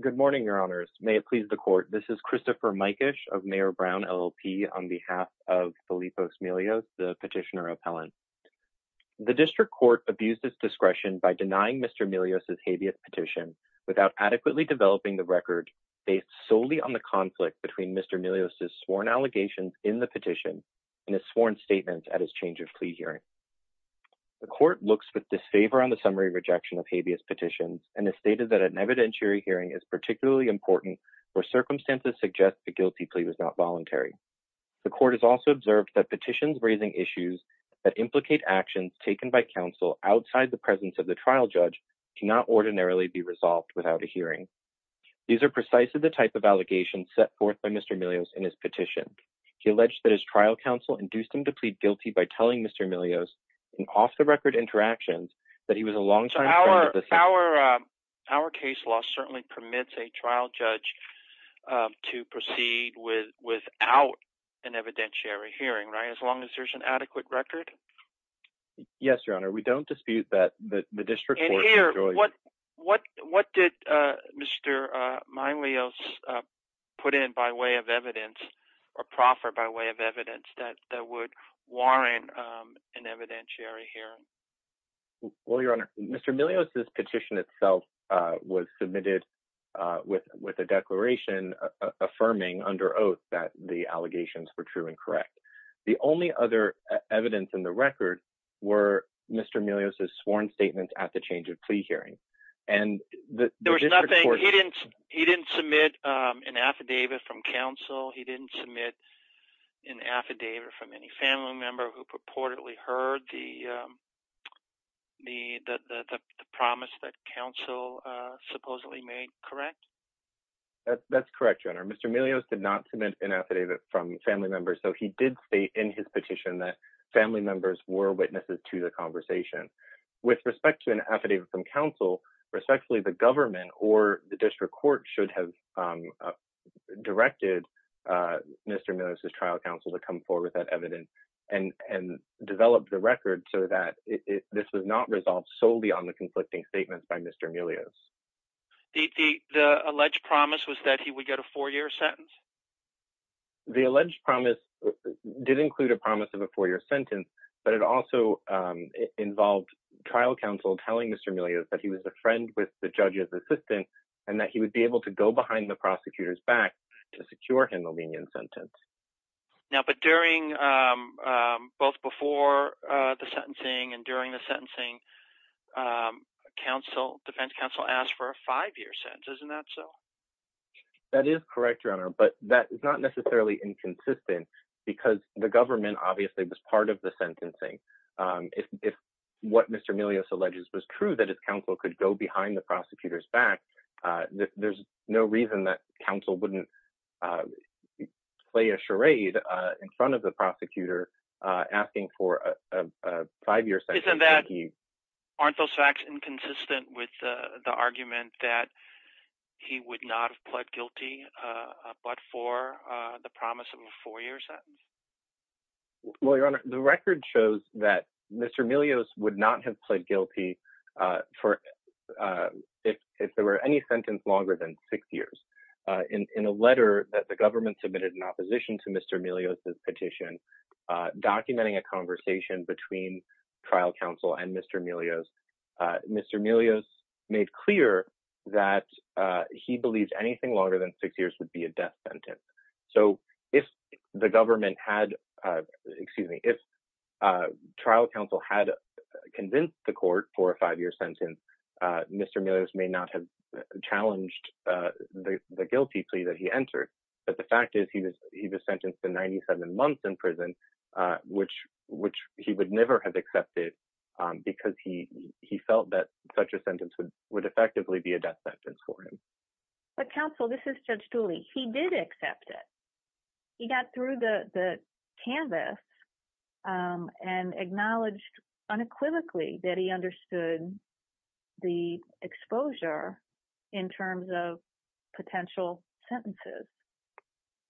Good morning, Your Honors. May it please the Court, this is Christopher Mykish of Mayor Brown LLP on behalf of Felipos Milios, the petitioner appellant. The District Court abused its discretion by denying Mr. Milios' habeas petition without adequately developing the record based solely on the conflict between Mr. Milios' sworn allegations in the petition and his sworn statements at his change of plea hearing. The Court looks with disfavor on the summary rejection of habeas petitions and has stated that an evidentiary hearing is particularly important where circumstances suggest the guilty plea was not voluntary. The Court has also observed that petitions raising issues that implicate actions taken by counsel outside the presence of the trial judge cannot ordinarily be resolved without a hearing. These are precisely the type of allegations set forth by Mr. Milios in his trial counsel induced him to plead guilty by telling Mr. Milios in off-the-record interactions that he was a long-time friend of the defendant. So our case law certainly permits a trial judge to proceed without an evidentiary hearing, right, as long as there's an adequate record? Yes, Your Honor. We don't dispute that the District Court enjoins it. What did Mr. Milios put in by way of evidence or proffer by way of evidence that would warrant an evidentiary hearing? Well, Your Honor, Mr. Milios' petition itself was submitted with a declaration affirming under oath that the allegations were true and correct. The only other evidence in the record were Mr. Milios' plea hearings. He didn't submit an affidavit from counsel. He didn't submit an affidavit from any family member who purportedly heard the promise that counsel supposedly made, correct? That's correct, Your Honor. Mr. Milios did not submit an affidavit from family members, so he did state in his petition that family members were witnesses to the conversation. With respect to an affidavit from counsel, respectfully, the government or the District Court should have directed Mr. Milios' trial counsel to come forward with that evidence and develop the record so that this was not resolved solely on the conflicting statements by Mr. Milios. The alleged promise was that he would get a four-year sentence? The alleged promise did include a promise of a four-year sentence, but it also involved trial counsel telling Mr. Milios that he was a friend with the judge's assistant and that he would be able to go behind the prosecutor's back to secure him a lenient sentence. But during both before the sentencing and during the sentencing, defense counsel asked for a five-year sentence. Isn't that so? That is correct, Your Honor, but that is not necessarily inconsistent because the government obviously was part of the sentencing. If what Mr. Milios alleges was true, that his counsel could go behind the prosecutor's back, there's no reason that counsel wouldn't play a charade in front of the prosecutor asking for a five-year sentence. Aren't those facts inconsistent with the argument that he would not have pled guilty but for the promise of a four-year sentence? Well, Your Honor, the record shows that Mr. Milios would not have pled guilty if there were any sentence longer than six years. In a letter that the government submitted in opposition to Mr. Milios' petition documenting a conversation between trial counsel and Mr. Milios, Mr. Milios made clear that he believes anything longer than six years would be a death sentence. So, if the government had, excuse me, if trial counsel had convinced the court for a five-year sentence, Mr. Milios may not have challenged the guilty plea that he entered, but the fact is he was sentenced to 97 months in prison, which he would never have accepted because he felt that such a sentence would effectively be a death sentence for him. But counsel, this is Judge Dooley, he did accept it. He got through the canvas and acknowledged unequivocally that he understood the exposure in terms of potential sentences.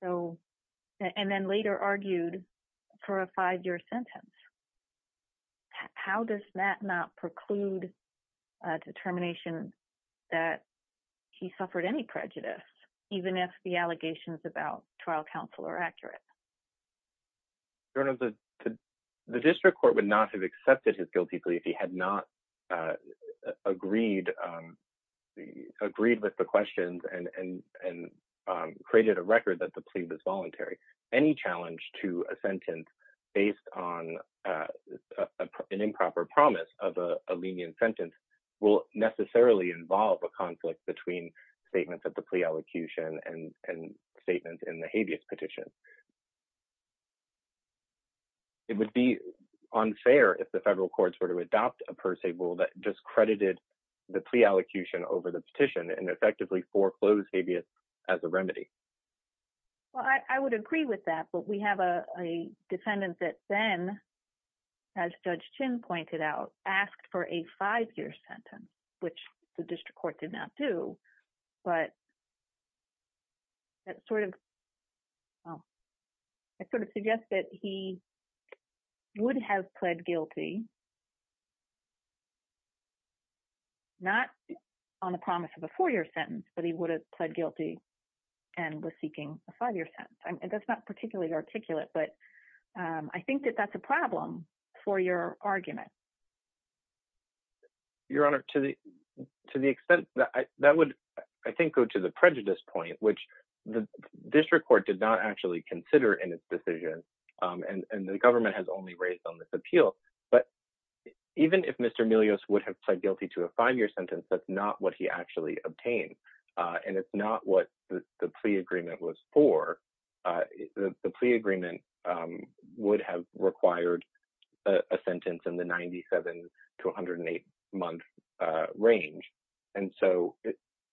So, and then later argued for a five-year sentence. How does that not preclude a determination that he suffered any prejudice, even if the allegations about trial counsel are accurate? Your Honor, the district court would not have accepted his guilty plea if he had not agreed with the questions and created a record that the plea was voluntary. Any challenge to a sentence based on an improper promise of a lenient sentence will necessarily involve a conflict between statements at the plea elocution and statements in the habeas petition. It would be unfair if the federal courts were to adopt a per se rule that discredited the plea elocution over the petition and effectively foreclosed habeas as a remedy. Well, I would agree with that, but we have a defendant that then, as Judge Chin pointed out, asked for a five-year sentence, which the district court did not do, but that sort of suggests that he would have pled guilty, not on the promise of a four-year sentence, but he would have pled guilty and was seeking a five-year sentence. That's not particularly articulate, but I think that that's a problem for your argument. Your Honor, to the extent that would, I think, go to the prejudice point, which the district court did not actually consider in its decision, and the government has only raised on this appeal, but even if Mr. Melios would have pled guilty to a five-year sentence, that's not what he actually obtained, and it's not what the plea agreement was for. The plea agreement would have required a sentence in the 97 to 108-month range, and so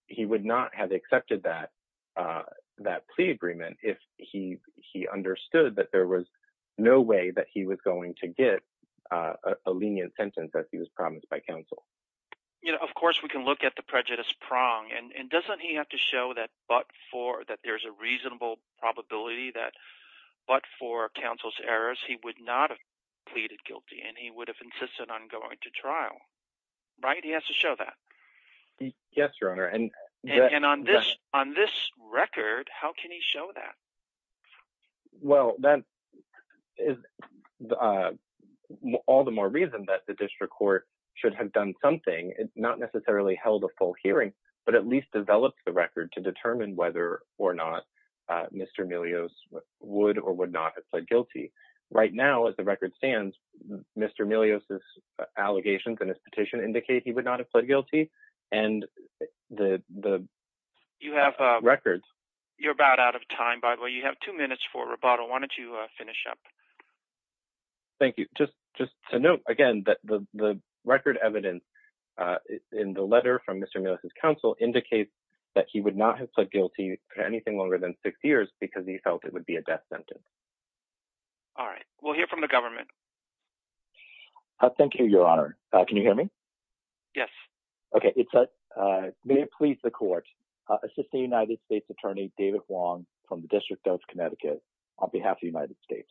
he would not have accepted that plea agreement if he understood that there was no way that he was going to get a lenient sentence as he was promised by counsel. You know, of course, we can look at the prejudice prong, and doesn't he have to show that there's a reasonable probability that but for counsel's errors, he would not have pleaded guilty and he would have insisted on going to trial, right? He has to show that. Yes, Your Honor, and on this record, how can he show that? Well, that is all the more reason that the district court should have done something, not necessarily held a full hearing, but at least developed the record to determine whether or not Mr. Melios would or would not have pled guilty. Right now, as the record stands, Mr. Melios' allegations in his petition indicate he would not have pled guilty, and the records... You're about out of time, by the way. You have two minutes for rebuttal. Why don't you finish up? Thank you. Just to note, again, that the record evidence in the letter from Mr. Melios' counsel indicates that he would not have pled guilty for anything longer than six years because he felt it would be a death sentence. All right. We'll hear from the government. Thank you, Your Honor. Can you hear me? Yes. Okay. May it please the court, Assistant United States Attorney David Wong from the District of Connecticut, on behalf of the United States.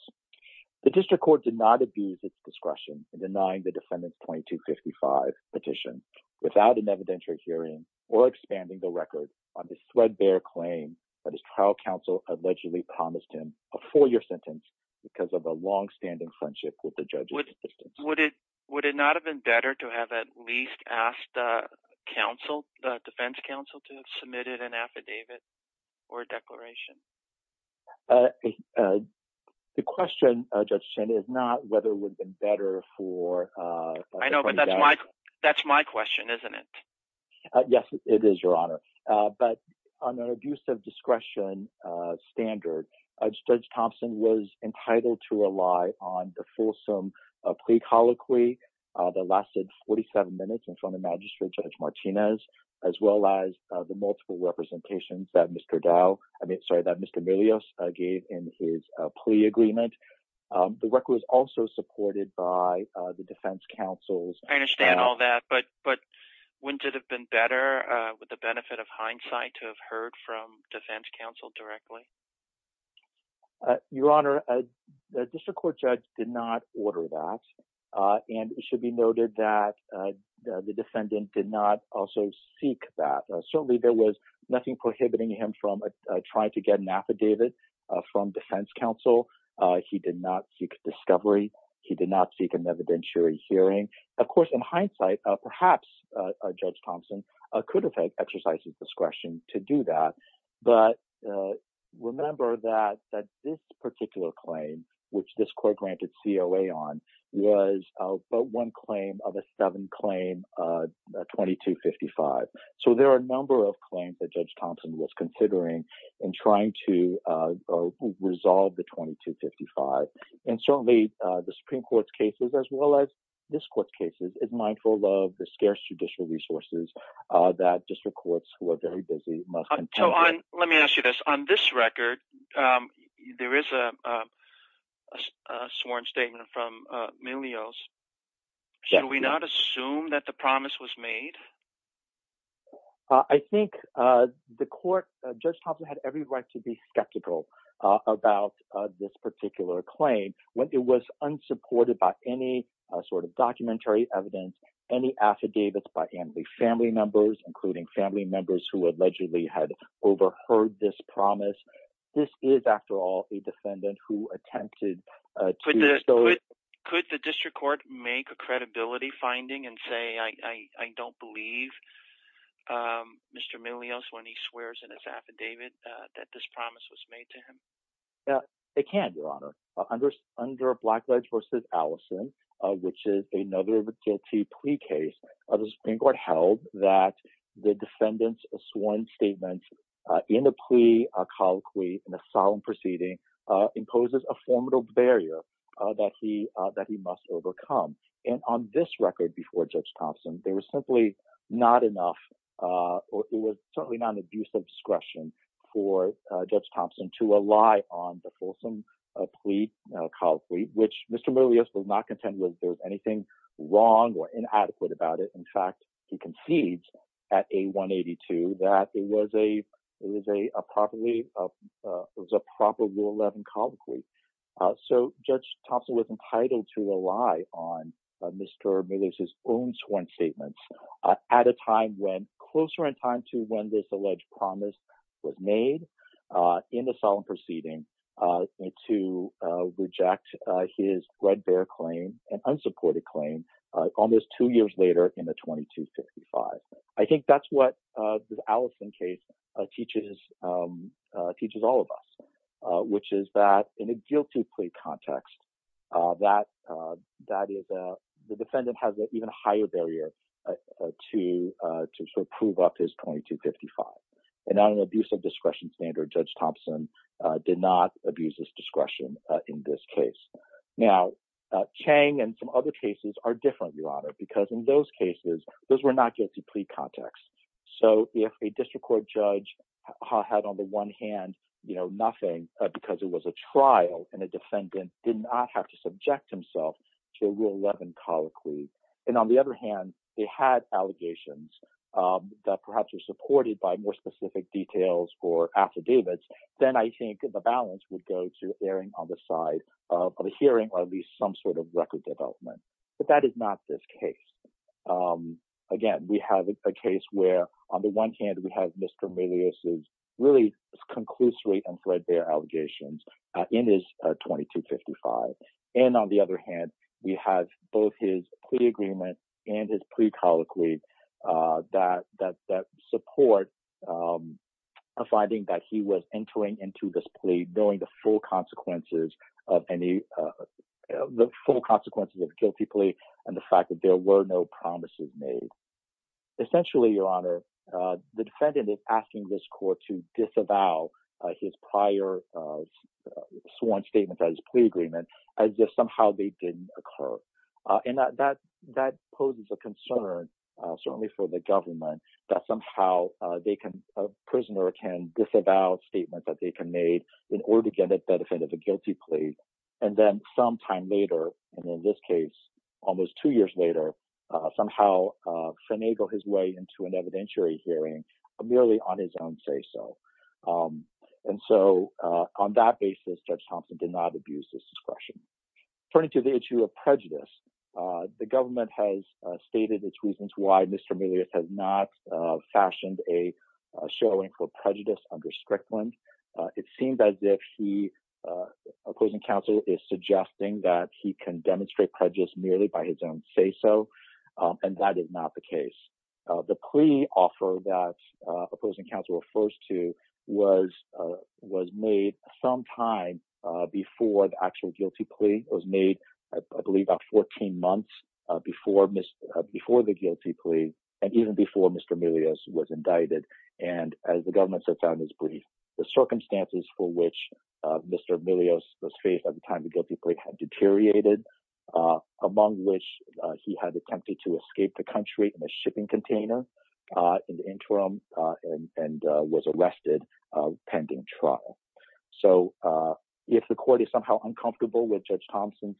The district court did not abuse its discretion in denying the defendant's 2255 petition without an evidentiary hearing or expanding the record on this threadbare claim that his trial counsel allegedly promised him a four-year sentence because of a longstanding friendship with the judge's assistance. Would it not have been better to have at least asked the defense counsel to have submitted an affidavit or a declaration? The question, Judge Chen, is not whether it would have been better for... I know, but that's my question, isn't it? Yes, it is, Your Honor. But on an abuse of discretion standard, Judge Thompson was entitled to rely on the fulsome plea colloquy that lasted 47 minutes in front of Magistrate Judge Martinez, as well as the multiple representations that Mr. Dow... I mean, sorry, that Mr. Milius gave in his plea agreement. The record was also supported by the defense counsel's... I understand all that, but wouldn't it have been better, with the benefit of hindsight, to have heard from defense counsel directly? Your Honor, the district court judge did not order that, and it should be noted that the defendant did not also seek that. Certainly, there was nothing prohibiting him from trying to get an affidavit from defense counsel. He did not seek discovery. He did not seek an evidentiary hearing. Of course, in hindsight, perhaps Judge Thompson could have exercised his discretion to that. But remember that this particular claim, which this court granted COA on, was but one claim of a seven-claim 2255. So there are a number of claims that Judge Thompson was considering in trying to resolve the 2255. And certainly, the Supreme Court's cases, as well as this court's mindful of the scarce judicial resources that district courts who are very busy must... So on... Let me ask you this. On this record, there is a sworn statement from Milius. Should we not assume that the promise was made? I think the court... Judge Thompson had every right to be skeptical about this particular claim when it was unsupported by any sort of documentary evidence, any affidavits by family members, including family members who allegedly had overheard this promise. This is, after all, a defendant who attempted to... Could the district court make a credibility finding and say, I don't believe Mr. Milius when he swears in his affidavit that this promise was made to him? It can, Your Honor. Under Blackledge v. Allison, which is another guilty plea case, the Supreme Court held that the defendant's sworn statement in a plea, a colloquy, in a solemn proceeding, imposes a formidable barrier that he must overcome. And on this record before Judge Thompson, there was simply not enough... It was certainly not an abuse of discretion for Judge Thompson to rely on the fulsome plea colloquy, which Mr. Milius will not contend with. There's anything wrong or inadequate about it. In fact, he concedes at A-182 that it was a proper Rule 11 colloquy. So Judge Thompson was entitled to rely on Mr. Milius' own sworn statements at a time when, closer in time to when this alleged promise was made in a solemn proceeding, to reject his red bear claim, an unsupported claim, almost two years later in the 2255. I think that's what the Allison case teaches all of us, which is that in a guilty plea context, the defendant has an even higher barrier to prove up his 2255. And on an abuse of discretion standard, Judge Thompson did not abuse his discretion in this case. Now, Chang and some other cases are different, Your Honor, because in those cases, those were not guilty plea contexts. So if a district court judge had, on the one hand, nothing because it was a trial and a defendant did not have to subject himself to a Rule 11 colloquy, and on the other hand, they had allegations that perhaps were supported by more specific details or affidavits, then I think the balance would go to erring on the side of a hearing or at least some sort of record development. But that is not this case. Again, we have a case where, on the one hand, we have Mr. Melious' really conclusory and red bear allegations in his 2255. And on the other hand, we have both his plea agreement and his plea colloquy that support a finding that he was entering into this plea knowing the full consequences of a guilty plea and the fact that there were no promises made. Essentially, Your Honor, the defendant is asking this court to disavow his prior sworn statement on his plea agreement as if somehow they didn't occur. And that poses a concern, certainly for the government, that somehow a prisoner can disavow a statement that they can make in order to get the benefit of a guilty plea, and then sometime later, and in this case, almost two years later, somehow finagle his way into an evidentiary hearing merely on his own say-so. And so, on that basis, Judge Thompson did not abuse his discretion. Turning to the issue of prejudice, the government has stated its reasons why Mr. Melious has not fashioned a showing for prejudice under Strickland. It seems as if the opposing counsel is suggesting that he can demonstrate prejudice merely by his own say-so, and that is not the case. The plea offer that opposing counsel refers to was made sometime before the actual guilty plea. It was made, I believe, about 14 months before the guilty plea and even before Mr. Melious was indicted. And as the brief, the circumstances for which Mr. Melious was faced at the time of the guilty plea had deteriorated, among which he had attempted to escape the country in a shipping container in the interim and was arrested pending trial. So, if the court is somehow uncomfortable with Judge Thompson's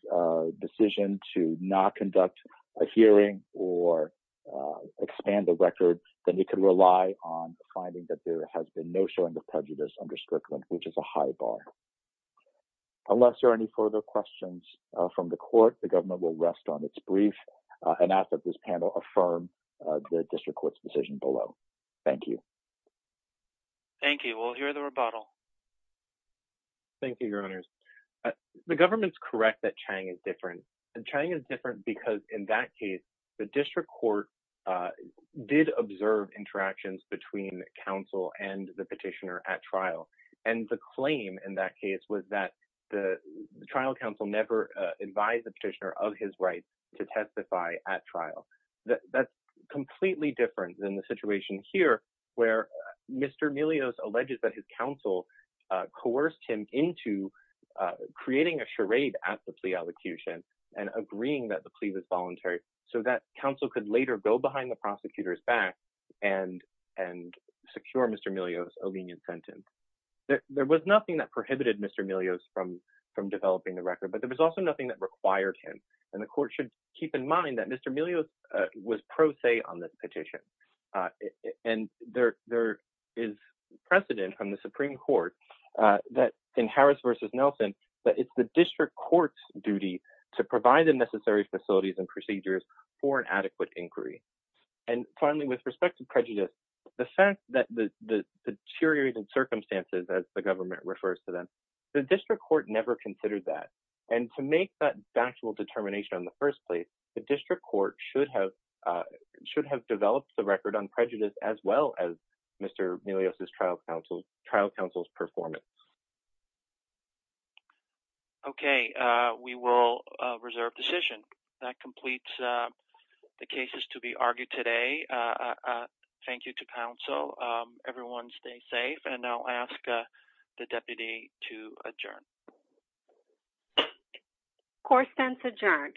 decision to not conduct a hearing or expand the record, then we can rely on finding that there has been no showing of prejudice under Strickland, which is a high bar. Unless there are any further questions from the court, the government will rest on its brief and ask that this panel affirm the district court's decision below. Thank you. Thank you. We'll hear the rebuttal. Thank you, Your Honors. The government's correct that Chang is different, and Chang is different because in that case, the district court did observe interactions between counsel and the petitioner at trial. And the claim in that case was that the trial counsel never advised the petitioner of his rights to testify at trial. That's completely different than the situation here where Mr. Melious alleges that his counsel coerced him into creating a charade at the plea and agreeing that the plea was voluntary so that counsel could later go behind the prosecutor's back and secure Mr. Melious a lenient sentence. There was nothing that prohibited Mr. Melious from developing the record, but there was also nothing that required him. And the court should keep in mind that Mr. Melious was pro se on this petition. And there is precedent from the Supreme Court that in Harris v. Nelson, that it's the district court's duty to provide the necessary facilities and procedures for an adequate inquiry. And finally, with respect to prejudice, the fact that the deteriorating circumstances, as the government refers to them, the district court never considered that. And to make that factual determination in the first place, the district court should have developed the record on prejudice as well as Mr. Melious' trial counsel's performance. Okay. We will reserve decision. That completes the cases to be argued today. Thank you to counsel. Everyone stay safe. And I'll ask the deputy to adjourn. Court stands adjourned.